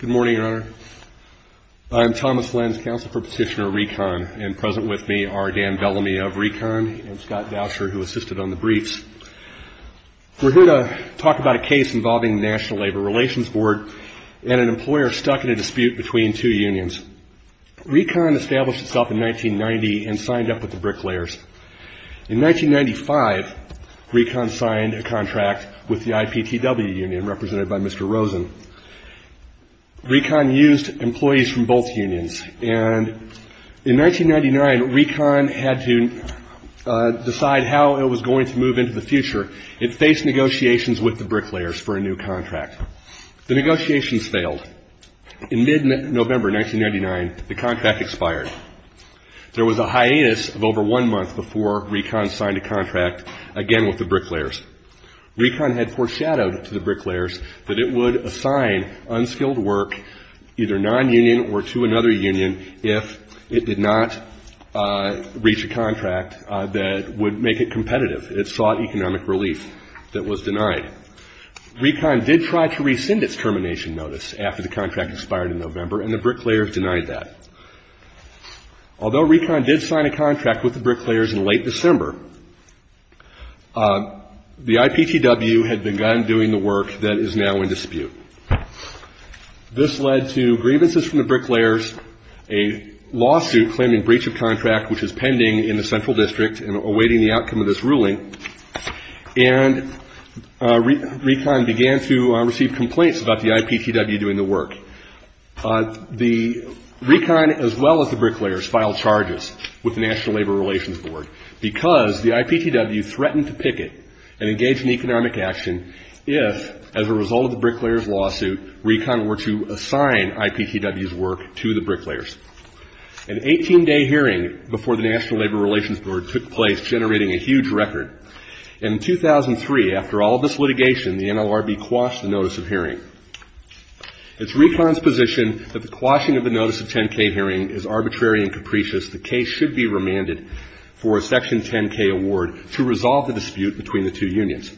Good morning, Your Honor. I am Thomas Lenz, counsel for Petitioner RECON, and present with me are Dan Bellamy of RECON and Scott Doucher, who assisted on the briefs. We're here to talk about a case involving the National Labor Relations Board and an employer stuck in a dispute between two unions. RECON established itself in 1990 and signed up with the Bricklayers. In 1995, RECON signed a contract with the IPTW union, represented by Mr. Rosen. RECON used employees from both unions. And in 1999, RECON had to decide how it was going to move into the future. It faced negotiations with the Bricklayers for a new contract. The negotiations failed. In mid-November 1999, the contract expired. There was a hiatus of over one month before RECON signed a contract again with the Bricklayers. RECON had foreshadowed to the Bricklayers that it would assign unskilled work, either non-union or to another union, if it did not reach a contract that would make it competitive. It sought economic relief. That was denied. RECON did try to rescind its termination notice after the contract expired in November, and the Bricklayers denied that. Although RECON did sign a contract with the Bricklayers in late December, the IPTW had begun doing the work that is now in dispute. This led to grievances from the Bricklayers, a lawsuit claiming breach of contract, which is pending in the central district and awaiting the outcome of this ruling, and RECON began to receive complaints about the IPTW doing the work. The RECON, as well as the Bricklayers, filed charges with the National Labor Relations Board because the IPTW threatened to picket and engage in economic action if, as a result of the Bricklayers' lawsuit, RECON were to assign IPTW's work to the Bricklayers. An 18-day hearing before the National Labor Relations Board took place, generating a huge record. In 2003, after all of this litigation, the NLRB quashed the notice of hearing. It's RECON's position that the quashing of the notice of 10-K hearing is arbitrary and capricious. The case should be remanded for a Section 10-K award to resolve the dispute between the two unions.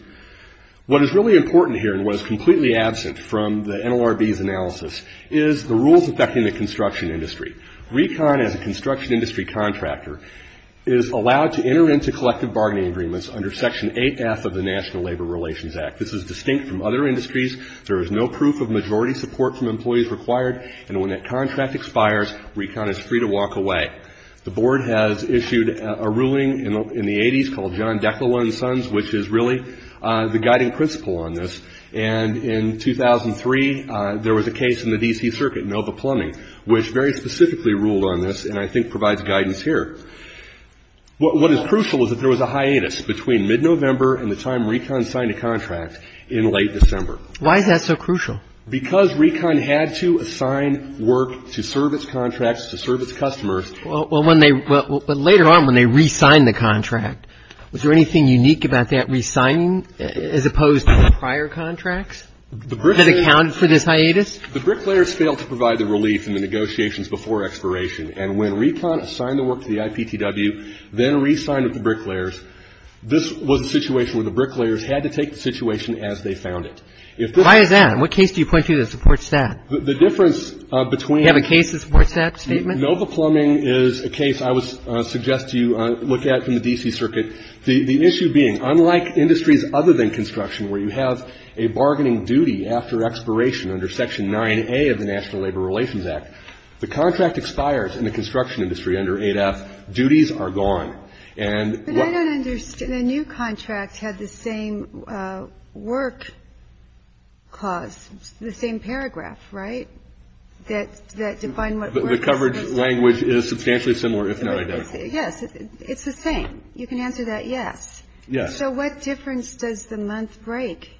What is really important here, and what is completely absent from the NLRB's analysis, is the rules affecting the construction industry. RECON, as a construction industry contractor, is allowed to enter into collective bargaining agreements under Section 8F of the National Labor Relations Act. This is distinct from other industries. There is no proof of majority support from employees required. And when that contract expires, RECON is free to walk away. The Board has issued a ruling in the 80s called John Declan and Sons, which is really the guiding principle on this. And in 2003, there was a case in the D.C. Circuit, Nova Plumbing, which very specifically ruled on this, and I think provides guidance here. What is crucial is that there was a hiatus between mid-November and the time RECON signed a contract in late December. Why is that so crucial? Because RECON had to assign work to serve its contracts, to serve its customers. Well, when they – but later on, when they re-signed the contract, was there anything unique about that re-signing as opposed to prior contracts that accounted for this hiatus? The bricklayers failed to provide the relief in the negotiations before expiration. And when RECON assigned the work to the IPTW, then re-signed with the bricklayers, this was a situation where the bricklayers had to take the situation as they found it. Why is that? And what case do you point to that supports that? The difference between – Do you have a case that supports that statement? Nova Plumbing is a case I would suggest you look at from the D.C. Circuit. The issue being, unlike industries other than construction, where you have a bargaining duty after expiration under Section 9A of the National Labor Relations Act, the contract expires in the construction industry under 8F. Duties are gone. And what – But I don't understand. The new contract had the same work clause, the same paragraph, right? That defined what – The coverage language is substantially similar, if not identical. Yes. It's the same. You can answer that yes. Yes. So what difference does the month break?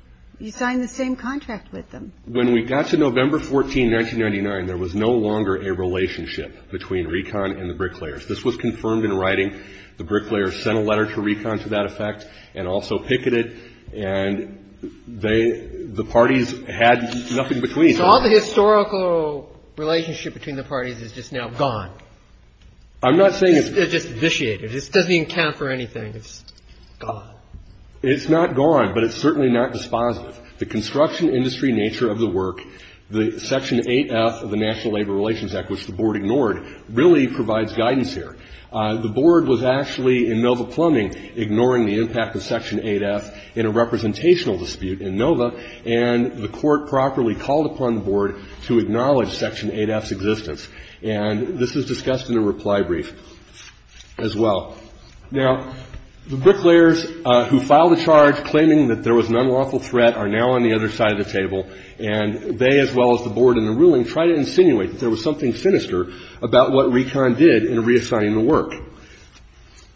You signed the same contract with them. When we got to November 14, 1999, there was no longer a relationship between Recon and the bricklayers. This was confirmed in writing. The bricklayers sent a letter to Recon to that effect and also picketed. And they – the parties had nothing between them. So all the historical relationship between the parties is just now gone. I'm not saying it's – It's just vitiated. It doesn't even count for anything. It's gone. It's not gone, but it's certainly not dispositive. The construction industry nature of the work, the Section 8F of the National Labor Relations Act, which the Board ignored, really provides guidance here. The Board was actually in NOVA plumbing, ignoring the impact of Section 8F in a representational dispute in NOVA, and the Court properly called upon the Board to acknowledge Section 8F's existence. And this is discussed in a reply brief as well. Now, the bricklayers who filed a charge claiming that there was an unlawful threat are now on the other side of the table, and they, as well as the Board and the ruling, try to insinuate that there was something sinister about what Recon did in reassigning the work.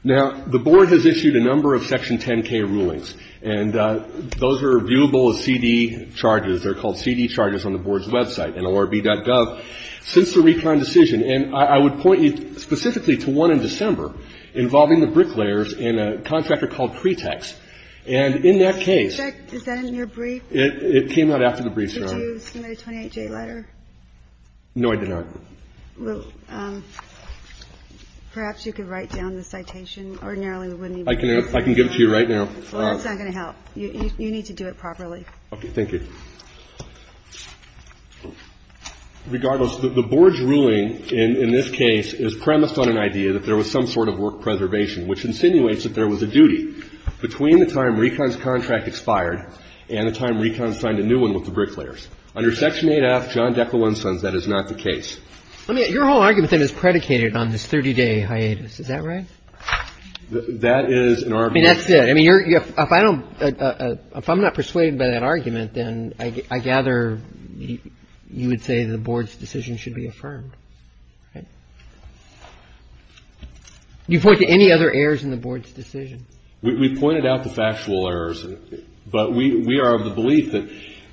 Now, the Board has issued a number of Section 10K rulings, and those are viewable as CD charges. They're called CD charges on the Board's website, nlrb.gov. But since the Recon decision, and I would point you specifically to one in December involving the bricklayers and a contractor called Cretex. And in that case ---- Is that in your brief? It came out after the brief, Your Honor. Did you submit a 28-J letter? No, I did not. Well, perhaps you could write down the citation. Ordinarily, we wouldn't even need it. I can give it to you right now. Well, that's not going to help. You need to do it properly. Okay. Thank you. Regardless, the Board's ruling in this case is premised on an idea that there was some sort of work preservation, which insinuates that there was a duty between the time Recon's contract expired and the time Recon signed a new one with the bricklayers. Under Section 8F, John Deca-Winson's, that is not the case. I mean, your whole argument, then, is predicated on this 30-day hiatus. Is that right? That is an argument ---- I mean, that's it. I mean, if I don't ---- if I'm not persuaded by that argument, then I gather you would say the Board's decision should be affirmed. Right? Do you point to any other errors in the Board's decision? We pointed out the factual errors. But we are of the belief that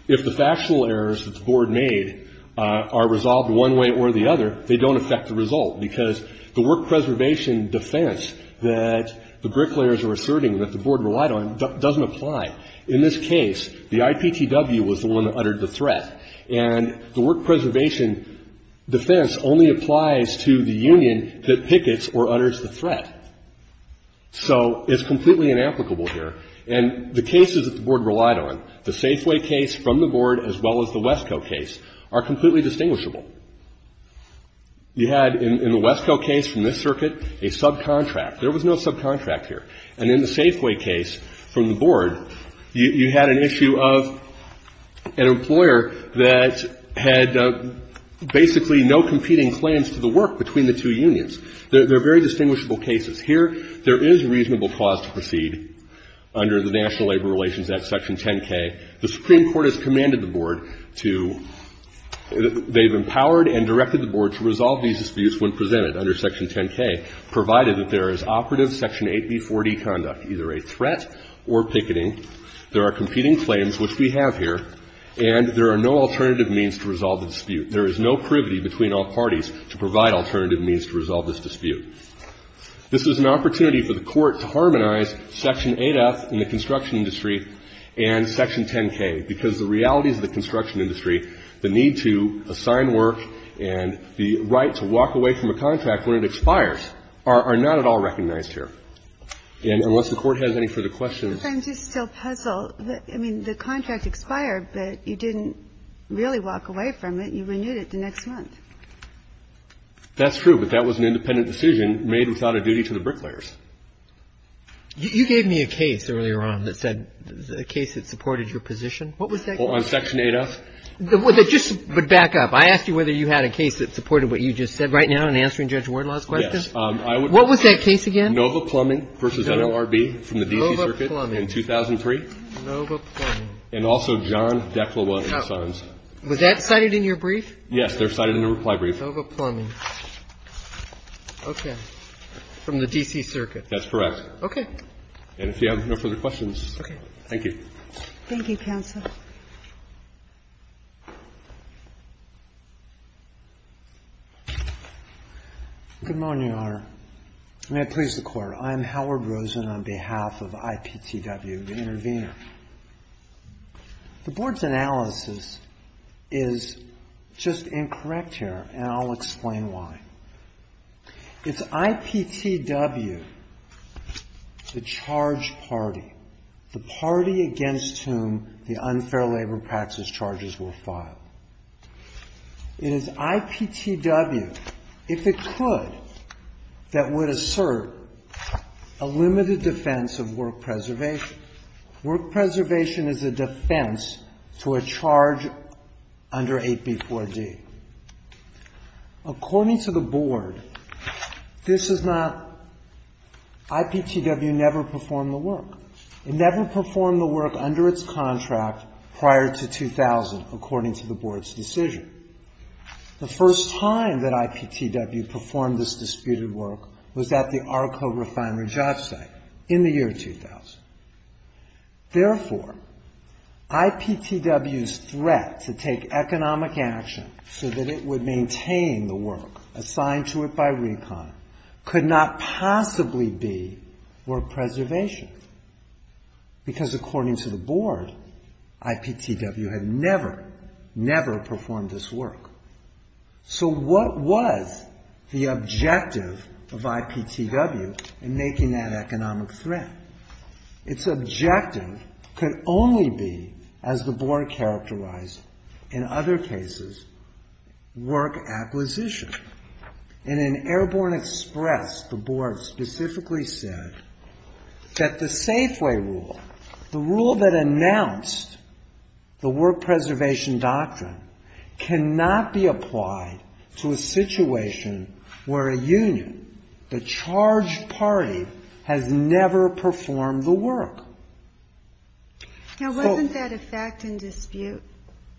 if the factual errors that the Board made are resolved one way or the other, they don't affect the result, because the work preservation defense that the bricklayers are asserting that the Board relied on doesn't apply. In this case, the IPTW was the one that uttered the threat. And the work preservation defense only applies to the union that pickets or utters the threat. So it's completely inapplicable here. And the cases that the Board relied on, the Safeway case from the Board as well as the Wesco case, are completely distinguishable. You had in the Wesco case from this circuit a subcontract. There was no subcontract here. And in the Safeway case from the Board, you had an issue of an employer that had basically no competing claims to the work between the two unions. They're very distinguishable cases. Here, there is reasonable cause to proceed under the National Labor Relations Act, Section 10K. The Supreme Court has commanded the Board to they've empowered and directed the Board to resolve these disputes when presented under Section 10K, provided that there is operative Section 8B4D conduct, either a threat or picketing. There are competing claims, which we have here, and there are no alternative means to resolve the dispute. There is no privity between all parties to provide alternative means to resolve this dispute. This is an opportunity for the Court to harmonize Section 8F in the construction industry and Section 10K, because the realities of the construction industry, the need to assign work and the right to walk away from a contract when it expires, are not at all recognized here. And unless the Court has any further questions. I'm just still puzzled. I mean, the contract expired, but you didn't really walk away from it. You renewed it the next month. That's true, but that was an independent decision made without a duty to the bricklayers. You gave me a case earlier on that said, a case that supported your position. What was that case? On Section 8F? Just back up. I asked you whether you had a case that supported what you just said right now in answering Judge Wardlaw's question. Yes. What was that case again? Nova Plumbing v. NLRB from the D.C. Circuit in 2003. Nova Plumbing. And also John Deklawas and Sons. Was that cited in your brief? Yes, they're cited in the reply brief. Nova Plumbing. Okay. From the D.C. Circuit. That's correct. Okay. And if you have no further questions. Okay. Thank you. Thank you, Counsel. Good morning, Your Honor. May it please the Court. I'm Howard Rosen on behalf of IPTW, the intervener. The Board's analysis is just incorrect here, and I'll explain why. It's IPTW, the charge party, the party against whom the unfair labor practice charges were filed. It is IPTW, if it could, that would assert a limited defense of work preservation. Work preservation is a defense to a charge under 8B4D. According to the Board, this is not IPTW never performed the work. It never performed the work under its contract prior to 2000, according to the Board's decision. The first time that IPTW performed this disputed work was at the ARCO refinery job site in the year 2000. Therefore, IPTW's threat to take economic action so that it would maintain the work assigned to it by RECON could not possibly be work preservation, because according to the Board, IPTW had never, never performed this work. So what was the objective of IPTW in making that economic threat? Its objective could only be, as the Board characterized in other cases, work acquisition. And in Airborne Express, the Board specifically said that the Safeway Rule, the rule that announced the work preservation doctrine, cannot be applied to a situation where a union, the charged party, has never performed the work. Now, wasn't that a fact and dispute?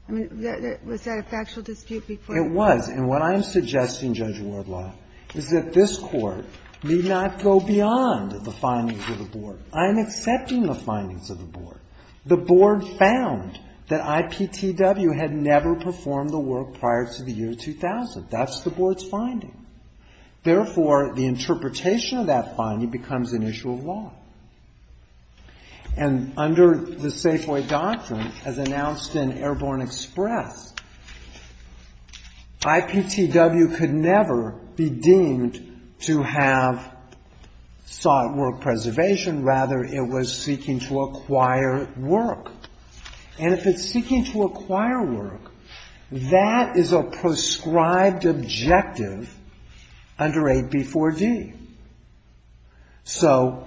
I mean, was that a factual dispute before? It was, and what I'm suggesting, Judge Wardlaw, is that this Court need not go beyond the findings of the Board. I'm accepting the findings of the Board. The Board found that IPTW had never performed the work prior to the year 2000. That's the Board's finding. Therefore, the interpretation of that finding becomes an issue of law. And under the Safeway Doctrine, as announced in Airborne Express, IPTW could never be deemed to have sought work preservation. Rather, it was seeking to acquire work. And if it's seeking to acquire work, that is a prescribed objective under AB4D. So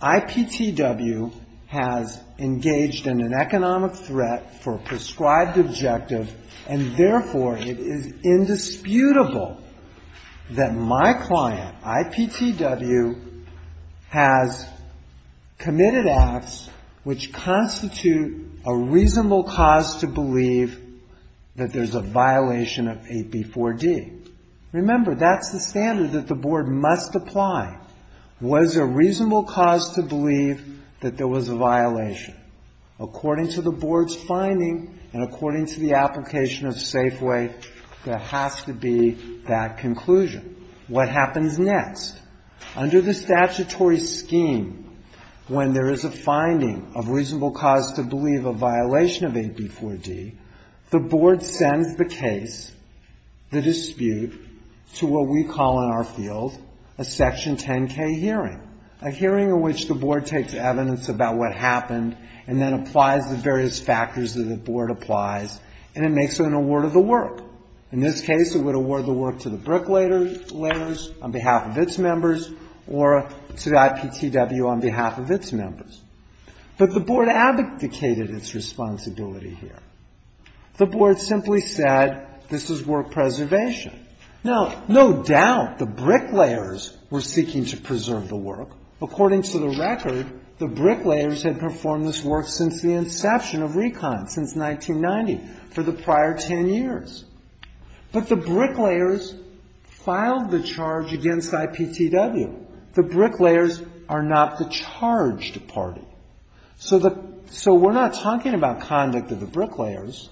IPTW has engaged in an economic threat for a prescribed objective, and therefore it is indisputable that my client, IPTW, has committed acts which constitute a reasonable cause to believe that there's a violation of AB4D. Remember, that's the standard that the Board must apply. Was there a reasonable cause to believe that there was a violation? According to the Board's finding and according to the application of Safeway, there has to be that conclusion. What happens next? Under the statutory scheme, when there is a finding of reasonable cause to believe a violation of AB4D, the Board sends the case, the dispute, to what we call in our field a Section 10K hearing, a hearing in which the Board takes evidence about what happened and then applies the various factors that the Board applies, and it makes an award of the work. In this case, it would award the work to the bricklayers on behalf of its members or to IPTW on behalf of its members. But the Board abdicated its responsibility here. The Board simply said this is work preservation. Now, no doubt the bricklayers were seeking to preserve the work. According to the record, the bricklayers had performed this work since the inception of Recon, since 1990. For the prior 10 years. But the bricklayers filed the charge against IPTW. The bricklayers are not the charged party. So the so we're not talking about conduct of the bricklayers.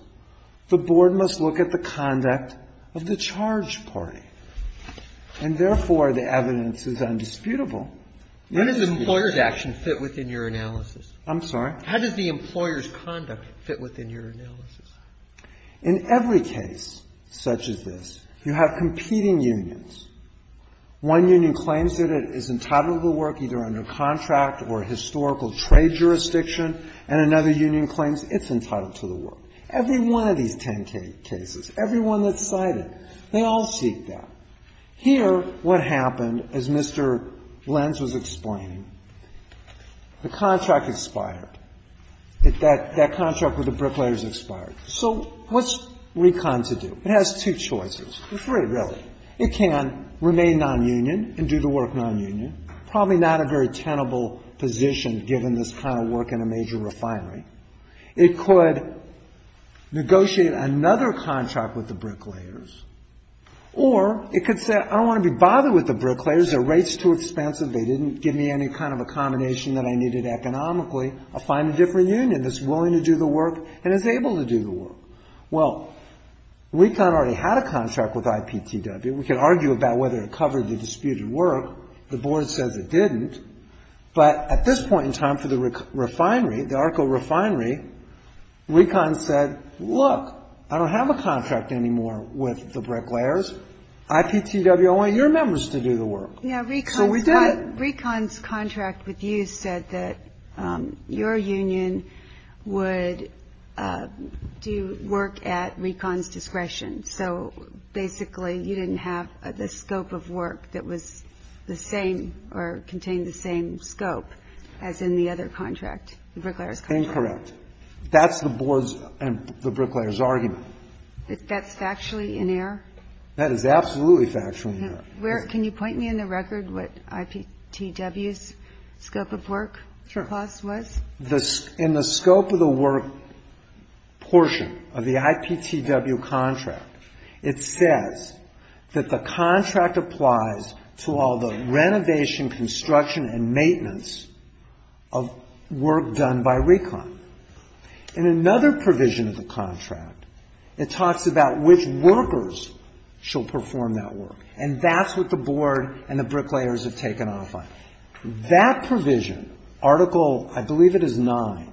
The Board must look at the conduct of the charged party. And therefore, the evidence is undisputable. Roberts. When does the employer's action fit within your analysis? I'm sorry? How does the employer's conduct fit within your analysis? In every case such as this, you have competing unions. One union claims that it is entitled to the work either under contract or historical trade jurisdiction, and another union claims it's entitled to the work. Every one of these 10 cases, every one that's cited, they all seek that. Here, what happened, as Mr. Lenz was explaining, the contract expired. That contract with the bricklayers expired. So what's Recon to do? It has two choices. Three, really. It can remain nonunion and do the work nonunion. Probably not a very tenable position given this kind of work in a major refinery. It could negotiate another contract with the bricklayers, or it could say, I don't want to be bothered with the bricklayers. Their rate's too expensive. They didn't give me any kind of accommodation that I needed economically. I'll find a different union that's willing to do the work and is able to do the work. Well, Recon already had a contract with IPTW. We could argue about whether it covered the disputed work. The Board says it didn't. But at this point in time for the refinery, the ARCO refinery, Recon said, look, I don't have a contract anymore with the bricklayers. IPTW, I want your members to do the work. Yeah, Recon's contract with you said that your union would do work at Recon's discretion. So basically you didn't have the scope of work that was the same or contained the same scope as in the other contract, the bricklayers' contract? Incorrect. That's the Board's and the bricklayers' argument. That's factually in error? That is absolutely factually in error. Can you point me in the record what IPTW's scope of work clause was? Sure. In the scope of the work portion of the IPTW contract, it says that the contract applies to all the renovation, construction and maintenance of work done by Recon. In another provision of the contract, it talks about which workers shall perform that work, and that's what the Board and the bricklayers have taken off on. That provision, Article, I believe it is 9,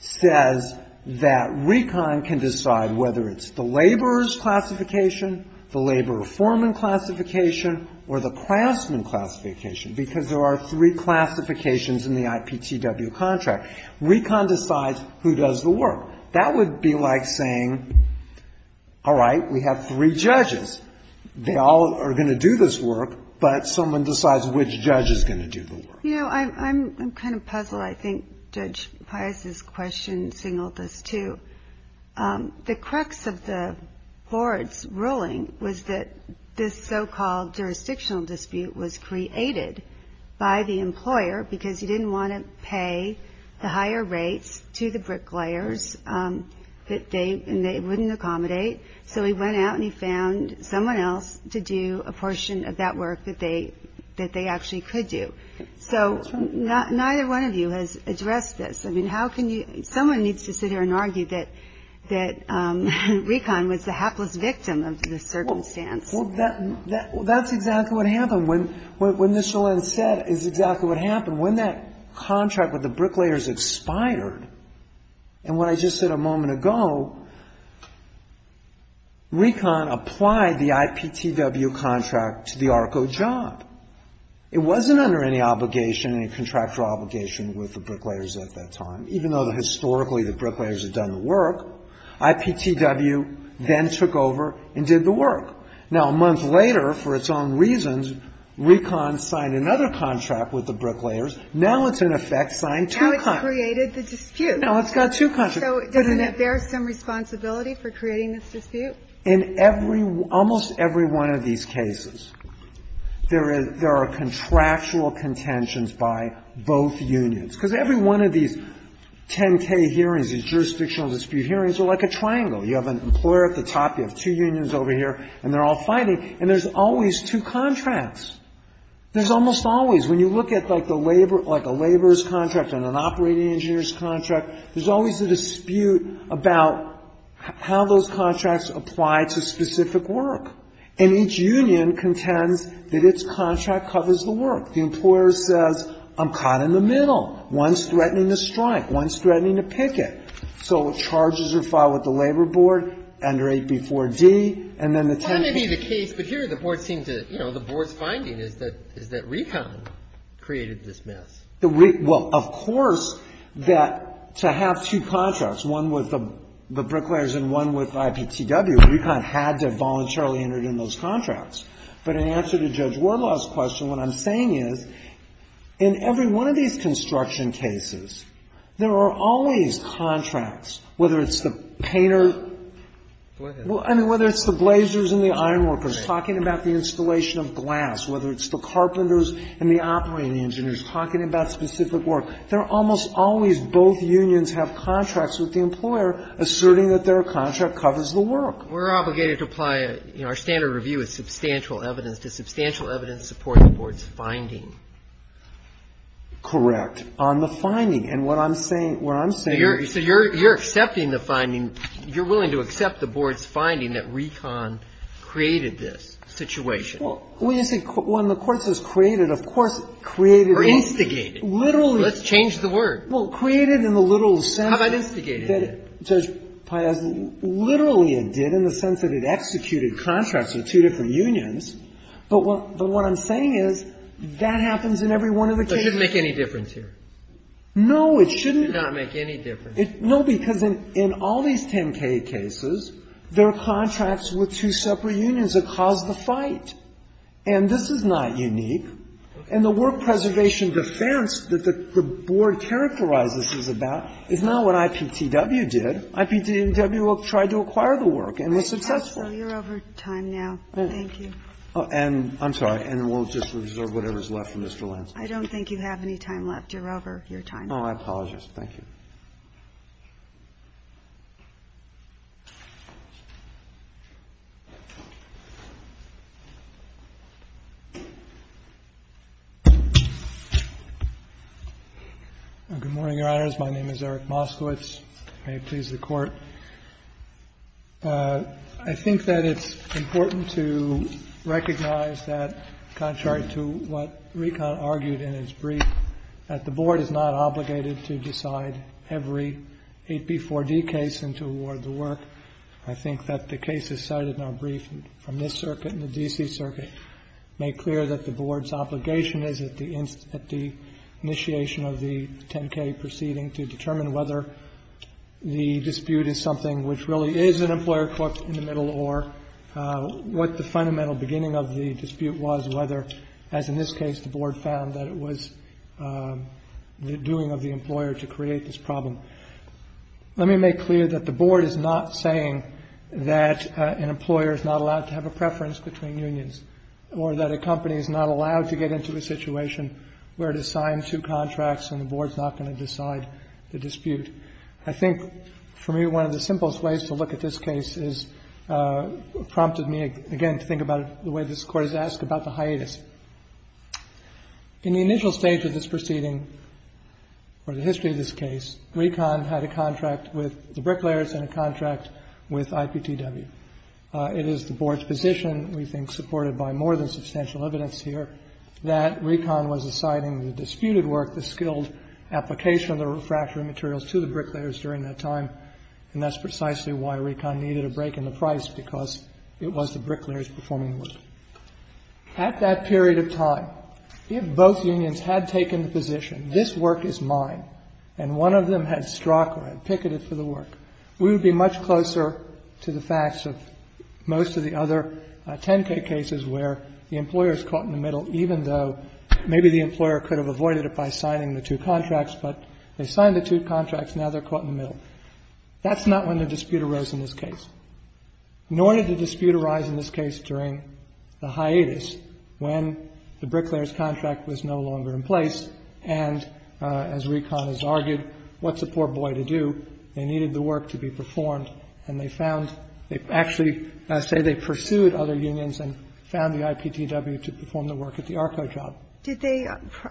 says that Recon can decide whether it's the laborer's classification, the laborer foreman classification or the craftsman classification, because there are three classifications in the IPTW contract. Recon decides who does the work. That would be like saying, all right, we have three judges. They all are going to do this work, but someone decides which judge is going to do the work. You know, I'm kind of puzzled. I think Judge Pius's question signaled this, too. The crux of the Board's ruling was that this so-called jurisdictional dispute was created by the employer, because he didn't want to pay the higher rates to the bricklayers, and they wouldn't accommodate. So he went out and he found someone else to do a portion of that work that they actually could do. So neither one of you has addressed this. I mean, how can you — someone needs to sit here and argue that Recon was the hapless victim of this circumstance. Well, that's exactly what happened. What Ms. Schillen said is exactly what happened. When that contract with the bricklayers expired, and what I just said a moment ago, Recon applied the IPTW contract to the ARCO job. It wasn't under any obligation, any contractual obligation with the bricklayers at that time, even though historically the bricklayers had done the work. IPTW then took over and did the work. Now, a month later, for its own reasons, Recon signed another contract with the bricklayers. Now it's in effect signed two contracts. Now it's created the dispute. Now it's got two contracts. So doesn't it bear some responsibility for creating this dispute? In every — almost every one of these cases, there are contractual contentions by both unions, because every one of these 10-K hearings, these jurisdictional dispute hearings, are like a triangle. You have an employer at the top, you have two unions over here, and they're all fighting, and there's always two contracts. There's almost always, when you look at like the labor — like a laborer's contract and an operating engineer's contract, there's always a dispute about how those contracts apply to specific work. And each union contends that its contract covers the work. The employer says, I'm caught in the middle. One's threatening to strike. One's threatening to picket. So charges are filed with the labor board under 8B4D, and then the 10-K case. But here the board seems to — you know, the board's finding is that Recon created this mess. The — well, of course that to have two contracts, one with the bricklayers and one with IPTW, Recon had to voluntarily enter in those contracts. But in answer to Judge Wardlaw's question, what I'm saying is, in every one of these construction cases, there are always contracts, whether it's the painter — Go ahead. Well, I mean, whether it's the blazers and the ironworkers talking about the installation of glass, whether it's the carpenters and the operating engineers talking about specific work, there are almost always both unions have contracts with the employer asserting that their contract covers the work. We're obligated to apply — you know, our standard review is substantial evidence. Does substantial evidence support the board's finding? Correct, on the finding. And what I'm saying — what I'm saying — So you're — so you're accepting the finding — you're willing to accept the board's finding that Recon created this situation? Well, when you say — when the Court says created, of course it created it. Or instigated. Literally. Let's change the word. Well, created in the literal sense — How about instigated? — that Judge Piazza — literally it did in the sense that it executed contracts with two different unions. But what — but what I'm saying is, that happens in every one of the cases. That shouldn't make any difference here. No, it shouldn't. It should not make any difference. No, because in all these 10K cases, there are contracts with two separate unions that caused the fight. And this is not unique. And the work preservation defense that the board characterizes is about is not what IPTW did. IPTW tried to acquire the work and was successful. All right. So you're over time now. Thank you. And I'm sorry. And we'll just reserve whatever's left for Mr. Lansing. I don't think you have any time left. You're over your time. Oh, I apologize. Thank you. Good morning, Your Honors. My name is Eric Moskowitz. May it please the Court. I think that it's important to recognize that, contrary to what Recon argued in its brief, that the board is not obligated to decide every AP4D case and to award the work. I think that the cases cited in our brief from this circuit and the D.C. circuit make clear that the board's obligation is at the initiation of the 10K proceeding to determine whether the dispute is something which really is an employer-cooked in the middle or what the fundamental beginning of the dispute was, whether, as in this case, the board found that it was the doing of the employer to create this problem. Let me make clear that the board is not saying that an employer is not allowed to have a preference between unions or that a company is not allowed to get into a situation where it is signed two contracts and the board is not going to decide the dispute. I think, for me, one of the simplest ways to look at this case has prompted me, again, to think about it the way this Court has asked, about the hiatus. In the initial stage of this proceeding, or the history of this case, Recon had a contract with the bricklayers and a contract with IPTW. It is the board's position, we think supported by more than substantial evidence here, that Recon was assigning the disputed work, the skilled application of the refractory materials to the bricklayers during that time, and that's precisely why Recon needed a break in the price, because it was the bricklayers performing the work. At that period of time, if both unions had taken the position, this work is mine, and one of them had struck or had picketed for the work, we would be much closer to the facts of most of the other 10k cases where the employer is caught in the middle, even though maybe the employer could have avoided it by signing the two contracts, but they signed the two contracts, now they're caught in the middle. That's not when the dispute arose in this case. Nor did the dispute arise in this case during the hiatus when the bricklayers' contract was no longer in place, and as Recon has argued, what's a poor boy to do? They needed the work to be performed, and they found they actually say they pursued other unions and found the IPTW to perform the work at the ARCO job. Ginsburg. Did they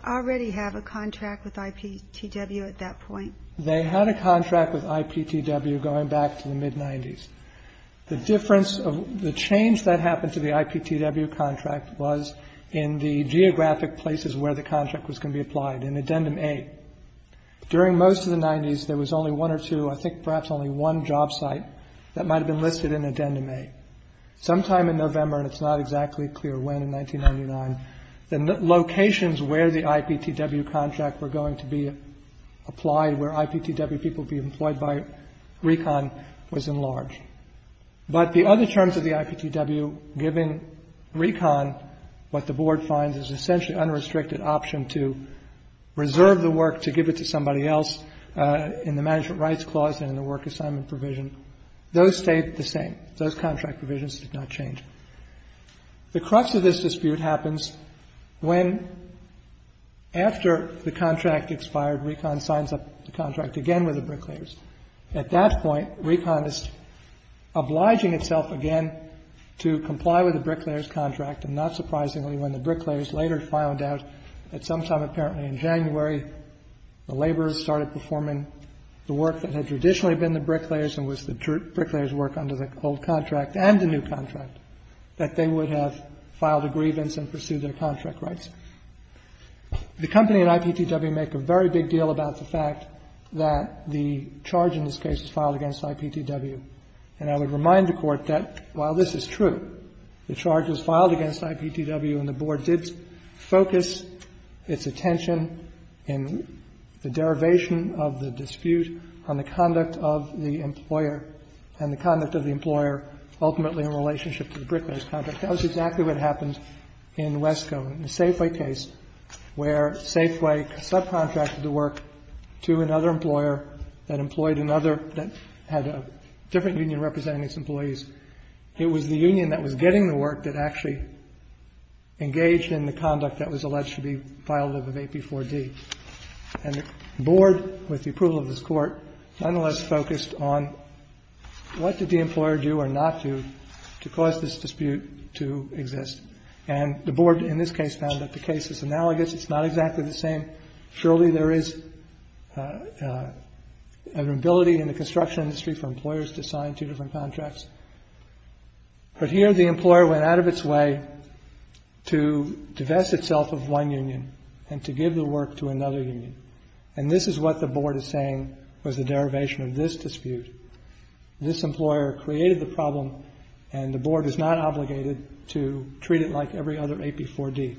already have a contract with IPTW at that point? They had a contract with IPTW going back to the mid-'90s. The difference of the change that happened to the IPTW contract was in the geographic places where the contract was going to be applied, in addendum A. During most of the 90s, there was only one or two, I think perhaps only one job site that might have been listed in addendum A. Sometime in November, and it's not exactly clear when, in 1999, the locations where the IPTW contract were going to be applied, where IPTW people would be employed by Recon, was enlarged. But the other terms of the IPTW, given Recon, what the Board finds is essentially unrestricted option to reserve the work to give it to somebody else in the management rights clause and in the work assignment provision. Those stayed the same. Those contract provisions did not change. The crux of this dispute happens when, after the contract expired, Recon signs up the contract again with the bricklayers. At that point, Recon is obliging itself again to comply with the bricklayers' contract, and not surprisingly, when the bricklayers later found out that sometime apparently in January, the laborers started performing the work that had traditionally been the bricklayers and was the bricklayers' work under the old contract and the new contract, that they would have filed a grievance and pursued their contract rights. The company and IPTW make a very big deal about the fact that the charge in this case is filed against IPTW. And I would remind the Court that while this is true, the charge was filed against IPTW and the Board did focus its attention in the derivation of the dispute on the conduct of the employer and the conduct of the employer ultimately in relationship to the bricklayers' contract. That was exactly what happened in Wesco, in the Safeway case, where Safeway subcontracted the work to another employer that employed another that had a different union representing its employees. It was the union that was getting the work that actually engaged in the conduct that was alleged to be violative of AP4D. And the Board, with the approval of this Court, nonetheless focused on what did the employer do or not do to cause this dispute to exist. And the Board in this case found that the case is analogous. It's not exactly the same. Surely there is an ability in the construction industry for employers to sign two different contracts. But here the employer went out of its way to divest itself of one union and to give the work to another union. And this is what the Board is saying was the derivation of this dispute. This employer created the problem, and the Board is not obligated to treat it like every other AP4D.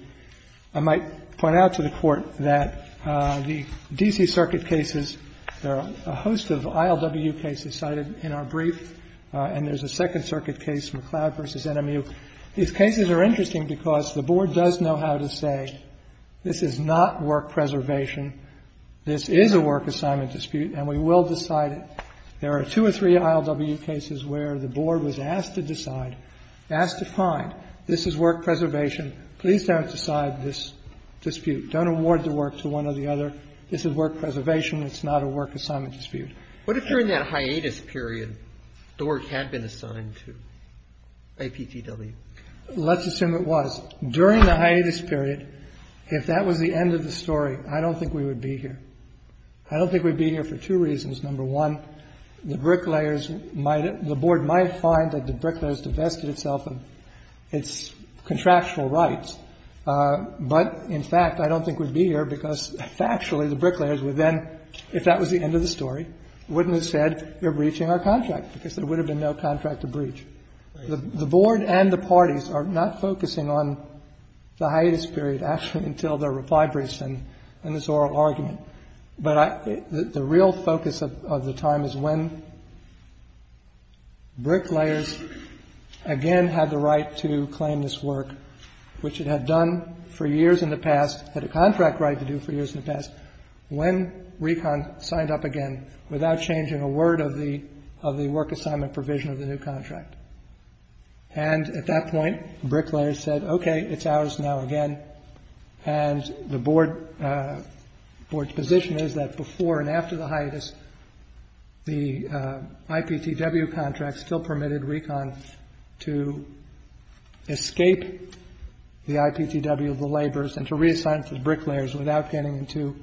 I might point out to the Court that the D.C. Circuit cases, there are a host of ILW cases cited in our brief, and there's a Second Circuit case, McLeod v. NMU. These cases are interesting because the Board does know how to say this is not work preservation, this is a work assignment dispute, and we will decide it. There are two or three ILW cases where the Board was asked to decide, asked to find this is work preservation, please don't decide this dispute. Don't award the work to one or the other. This is work preservation. It's not a work assignment dispute. What if during that hiatus period the work had been assigned to APTW? Let's assume it was. During the hiatus period, if that was the end of the story, I don't think we would be here. I don't think we'd be here for two reasons. Number one, the bricklayers might, the Board might find that the bricklayers divested itself of its contractual rights. But, in fact, I don't think we'd be here because factually the bricklayers would then, if that was the end of the story, wouldn't have said we're breaching our contract because there would have been no contract to breach. The Board and the parties are not focusing on the hiatus period, actually, until their reply briefs and this oral argument. But the real focus of the time is when bricklayers again had the right to claim this work, which it had done for years in the past, had a contract right to do for years in the past, when RECON signed up again without changing a word of the work assignment provision of the new contract. And at that point, bricklayers said, okay, it's ours now again. And the Board's position is that before and after the hiatus, the IPTW contract still permitted RECON to escape the IPTW, the laborers, and to reassign to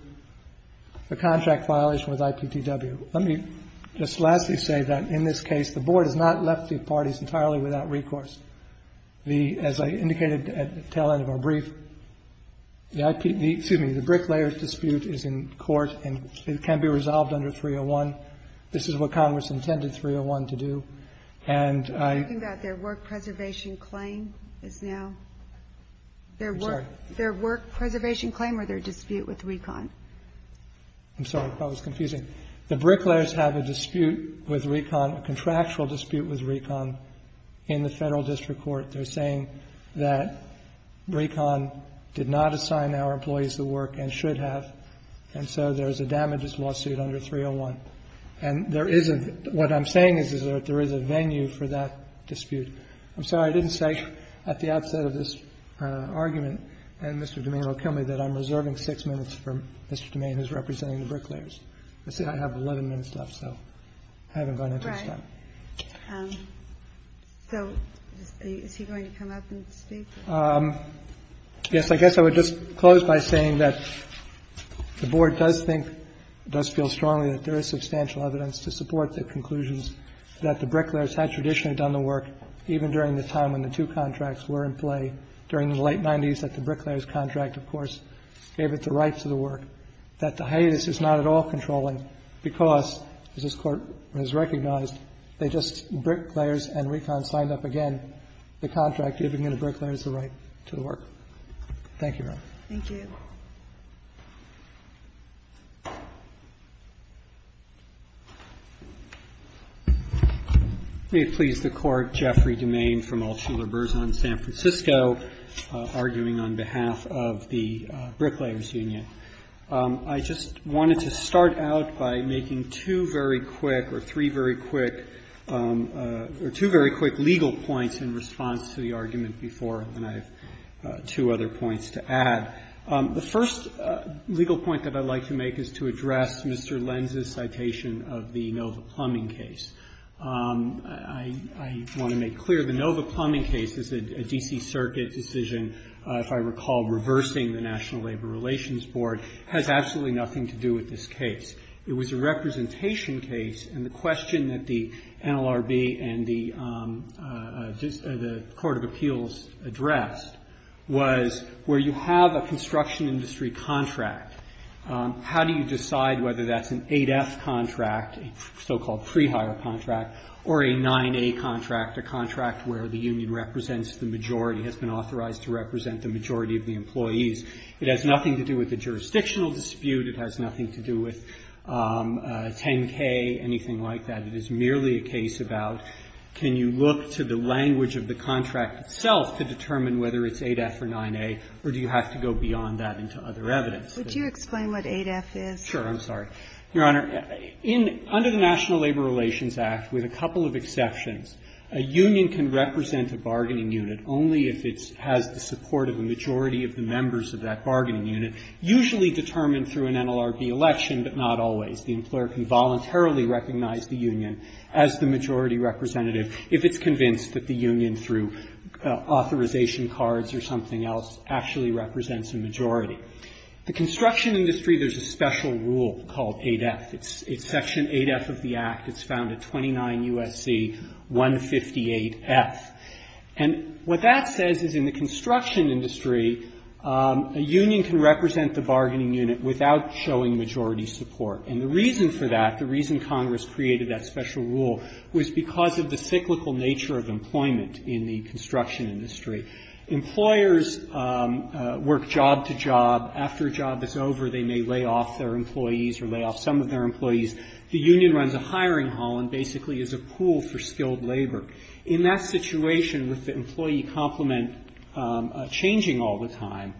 the contract violation with IPTW. Let me just lastly say that in this case, the Board has not left the parties entirely without recourse. The, as I indicated at the tail end of our brief, the IPTW, excuse me, the bricklayers dispute is in court and it can be resolved under 301. This is what Congress intended 301 to do. And I ---- I'm sorry. That was confusing. The bricklayers have a dispute with RECON, a contractual dispute with RECON in the Federal District Court. They're saying that RECON did not assign our employees the work and should have, and so there's a damages lawsuit under 301. And there isn't ---- what I'm saying is that there is a venue for that dispute. I'm sorry. I didn't say at the outset of this argument, and Mr. DuMain will kill me, that I'm reserving six minutes for Mr. DuMain, who's representing the bricklayers. I have 11 minutes left, so I haven't gone into his time. So is he going to come up and speak? Yes. I guess I would just close by saying that the Board does think, does feel strongly that there is substantial evidence to support the conclusions that the bricklayers had traditionally done the work, even during the time when the two contracts were in play, during the late 90s, that the bricklayers' contract, of course, gave it the right to the work, that the hiatus is not at all controlling because, as this Court has recognized, they just ---- bricklayers and RECON signed up again, the contract giving the bricklayers the right to the work. Thank you, Your Honor. Thank you. May it please the Court. Jeffrey DuMain from Altshuler-Berzon, San Francisco, arguing on behalf of the Bricklayers Union. I just wanted to start out by making two very quick or three very quick or two very quick legal points in response to the argument before, and I have two other points to add. The first legal point that I'd like to make is to address Mr. Lenz's citation of the Nova Plumbing case. I want to make clear the Nova Plumbing case is a D.C. Circuit decision, if I recall, reversing the National Labor Relations Board. It has absolutely nothing to do with this case. It was a representation case, and the question that the NLRB and the Court of Appeals addressed was where you have a construction industry contract, how do you decide whether that's an 8F contract, a so-called pre-hire contract, or a 9A contract, a contract where the union represents the majority, has been authorized to represent the majority of the employees. It has nothing to do with the jurisdictional dispute. It has nothing to do with 10K, anything like that. It is merely a case about can you look to the language of the contract itself to determine whether it's 8F or 9A, or do you have to go beyond that into other evidence? Ginsburg. Would you explain what 8F is? Feigin. Sure. I'm sorry. Your Honor, under the National Labor Relations Act, with a couple of exceptions, a union can represent a bargaining unit only if it has the support of a majority of the members of that bargaining unit, usually determined through an NLRB election, but not always. The employer can voluntarily recognize the union as the majority representative if it's convinced that the union, through authorization cards or something else, actually represents a majority. The construction industry, there's a special rule called 8F. It's Section 8F of the Act. It's found at 29 U.S.C. 158F. And what that says is in the construction industry, a union can represent the bargaining unit without showing majority support. And the reason for that, the reason Congress created that special rule, was because of the cyclical nature of employment in the construction industry. Employers work job to job. After a job is over, they may lay off their employees or lay off some of their employees. The union runs a hiring hall and basically is a pool for skilled labor. In that situation, with the employee complement changing all the time,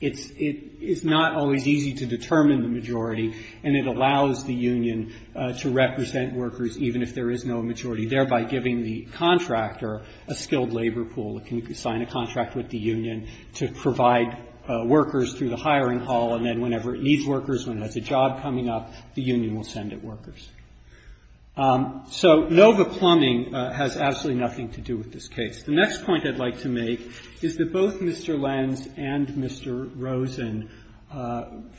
it's not always easy to determine the majority, and it allows the union to represent workers even if there is no majority, thereby giving the contractor a skilled labor pool that can sign a contract with the union to provide workers through the hiring hall. And then whenever it needs workers, when it has a job coming up, the union will send it workers. So NOVA plumbing has absolutely nothing to do with this case. The next point I'd like to make is that both Mr. Lenz and Mr. Rosen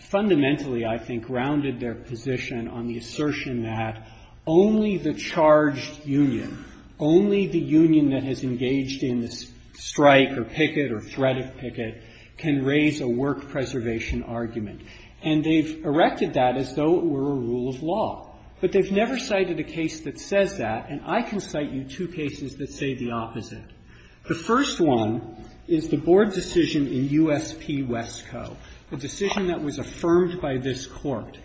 fundamentally, I think, grounded their position on the assertion that only the charged union, only the union that has engaged in this strike or picket or threat of picket, can raise a work preservation argument. And they've erected that as though it were a rule of law. But they've never cited a case that says that, and I can cite you two cases that say the opposite. The first one is the Board decision in USP Wesco, a decision that was affirmed by this Court.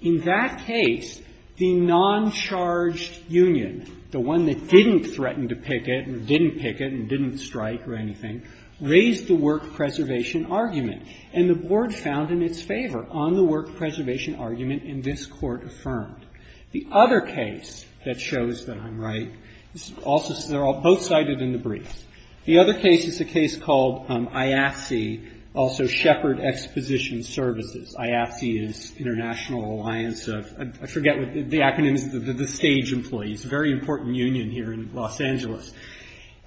In that case, the noncharged union, the one that didn't threaten to picket or didn't picket and didn't strike or anything, raised the work preservation argument. And the Board found in its favor on the work preservation argument, and this Court affirmed. The other case that shows that I'm right is also, they're both cited in the briefs. The other case is a case called IAFSI, also Shepherd Exposition Services. IAFSI is International Alliance of, I forget what the acronym is, the Stage Employees, a very important union here in Los Angeles.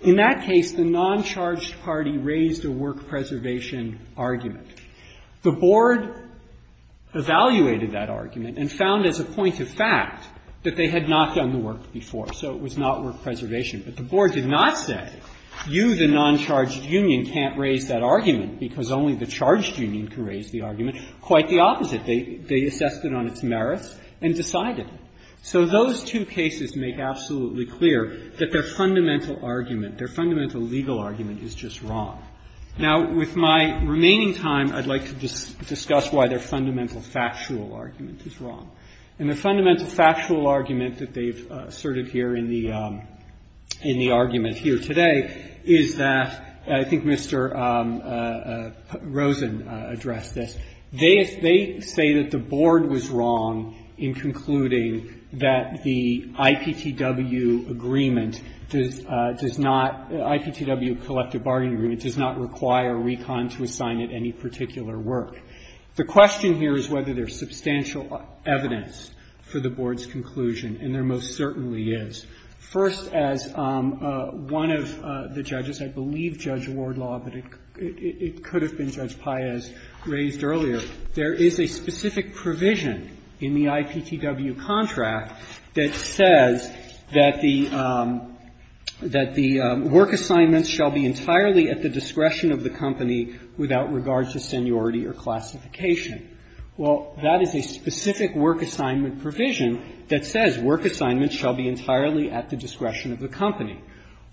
In that case, the noncharged party raised a work preservation argument. The Board evaluated that argument and found as a point of fact that they had not done the work before, so it was not work preservation. But the Board did not say, you, the noncharged union, can't raise that argument because only the charged union can raise the argument. Quite the opposite. They assessed it on its merits and decided. So those two cases make absolutely clear that their fundamental argument, their fundamental legal argument is just wrong. Now, with my remaining time, I'd like to discuss why their fundamental factual argument is wrong. And their fundamental factual argument that they've asserted here in the argument here today is that, I think Mr. Rosen addressed this, they say that the Board was wrong in concluding that the IPTW agreement does not, IPTW, collective bargaining agreement does not require RECON to assign it any particular work. The question here is whether there's substantial evidence for the Board's conclusion, and there most certainly is. First, as one of the judges, I believe Judge Wardlaw, but it could have been Judge Paez, raised earlier, there is a specific provision in the IPTW contract that says that the, that the work assignments shall be entirely at the discretion of the company without regard to seniority or classification. Well, that is a specific work assignment provision that says work assignments shall be entirely at the discretion of the company.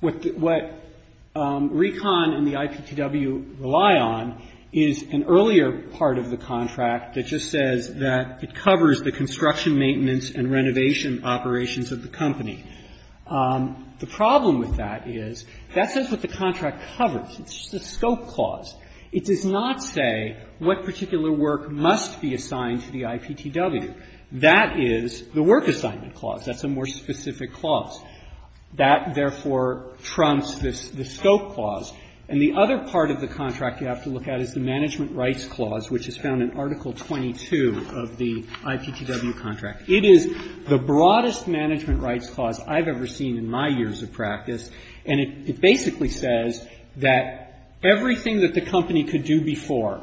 What RECON and the IPTW rely on is an earlier part of the contract that just says that it covers the construction, maintenance, and renovation operations of the company. The problem with that is that says what the contract covers. It's just a scope clause. It does not say what particular work must be assigned to the IPTW. That is the work assignment clause. That's a more specific clause. That, therefore, trumps this scope clause. And the other part of the contract you have to look at is the management rights clause, which is found in Article 22 of the IPTW contract. It is the broadest management rights clause I've ever seen in my years of practice. And it basically says that everything that the company could do before,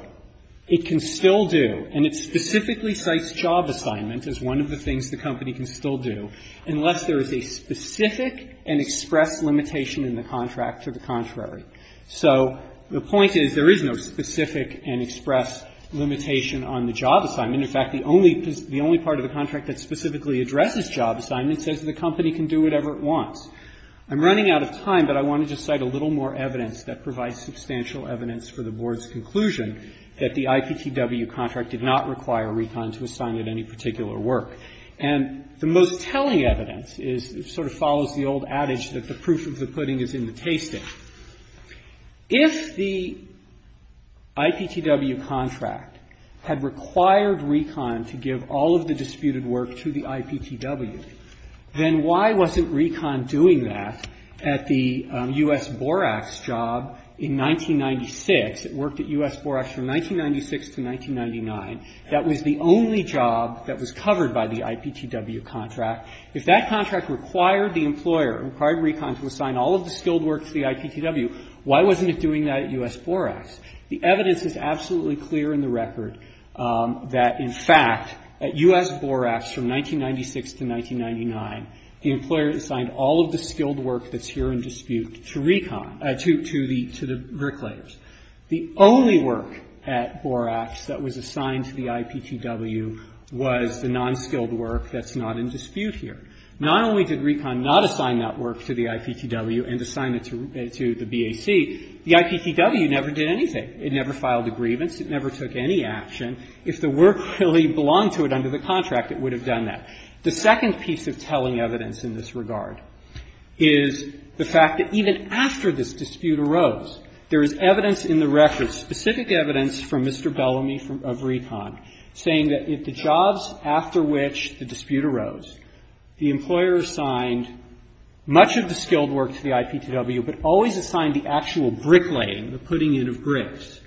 it can still do. And it specifically cites job assignment as one of the things the company can still do unless there is a specific and express limitation in the contract to the contrary. So the point is there is no specific and express limitation on the job assignment. In fact, the only part of the contract that specifically addresses job assignment says the company can do whatever it wants. I'm running out of time, but I wanted to cite a little more evidence that provides substantial evidence for the Board's conclusion that the IPTW contract did not require RECON to assign it any particular work. And the most telling evidence is it sort of follows the old adage that the proof of the pudding is in the tasting. If the IPTW contract had required RECON to give all of the disputed work to the IPTW, then why wasn't RECON doing that at the U.S. Borax job in 1996? It worked at U.S. Borax from 1996 to 1999. That was the only job that was covered by the IPTW contract. If that contract required the employer, required RECON to assign all of the skilled work to the IPTW, why wasn't it doing that at U.S. Borax? The evidence is absolutely clear in the record that, in fact, at U.S. Borax from 1996 to 1999, the employer assigned all of the skilled work that's here in dispute to RECON, to the bricklayers. The only work at Borax that was assigned to the IPTW was the non-skilled work that's not in dispute here. Not only did RECON not assign that work to the IPTW and assign it to the BAC, the IPTW never did anything. It never filed a grievance. It never took any action. If the work really belonged to it under the contract, it would have done that. The second piece of telling evidence in this regard is the fact that even after this dispute arose, there is evidence in the record, specific evidence from Mr. Bellamy of RECON, saying that if the jobs after which the dispute arose, the employer assigned much of the skilled work to the IPTW, but always assigned the actual bricklaying, the putting in of bricks,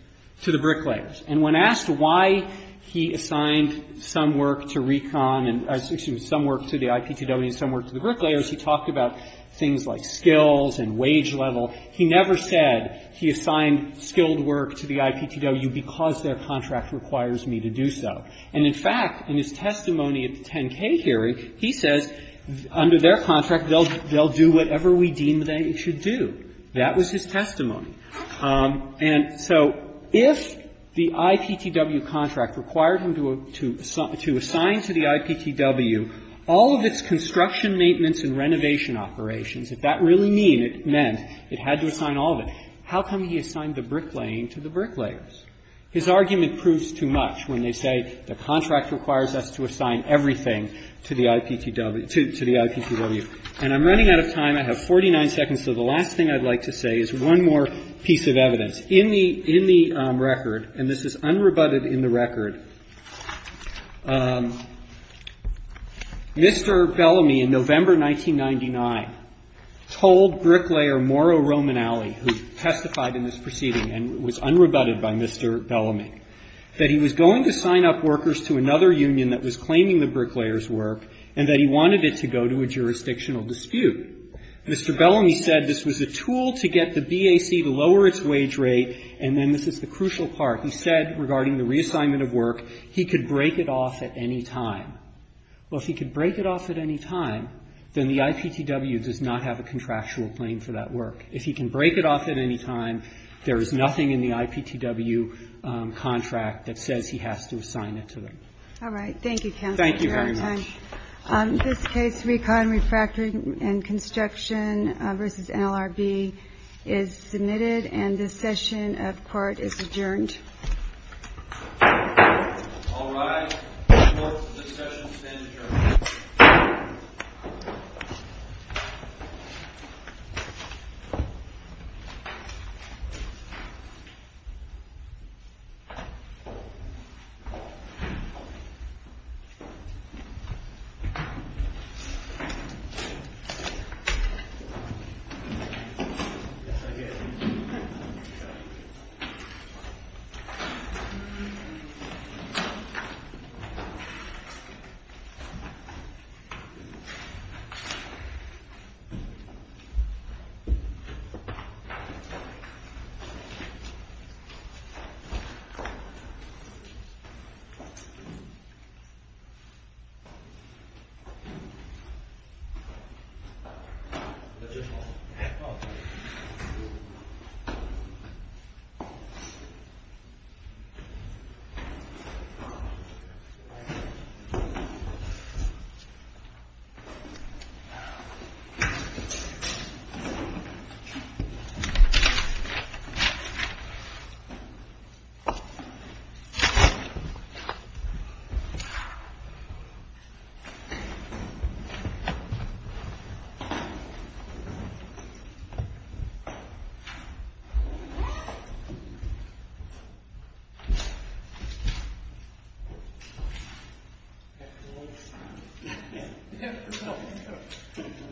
to the bricklayers. And when asked why he assigned some work to RECON and some work to the IPTW and some work to the bricklayers, he talked about things like skills and wage level. He never said he assigned skilled work to the IPTW because their contract requires me to do so. And, in fact, in his testimony at the 10-K hearing, he says under their contract they'll do whatever we deem they should do. That was his testimony. And so if the IPTW contract required him to assign to the IPTW all of its construction, if that really meant it had to assign all of it, how come he assigned the bricklaying to the bricklayers? His argument proves too much when they say the contract requires us to assign everything to the IPTW. And I'm running out of time. I have 49 seconds, so the last thing I'd like to say is one more piece of evidence. In the record, and this is unrebutted in the record, Mr. Bellamy in November of this year, November 1999, told bricklayer Mauro Romanelli, who testified in this proceeding and was unrebutted by Mr. Bellamy, that he was going to sign up workers to another union that was claiming the bricklayers' work and that he wanted it to go to a jurisdictional dispute. Mr. Bellamy said this was a tool to get the BAC to lower its wage rate, and then this is the crucial part. He said, regarding the reassignment of work, he could break it off at any time. Well, if he could break it off at any time, then the IPTW does not have a contractual claim for that work. If he can break it off at any time, there is nothing in the IPTW contract that says he has to assign it to them. All right. Thank you, counsel. Thank you very much. We're out of time. This case, Recon, Refractory and Construction v. NLRB, is submitted, and this session of court is adjourned. All rise. The court of this session stands adjourned. Thank you, counsel. Thank you, counsel. Thank you, counsel.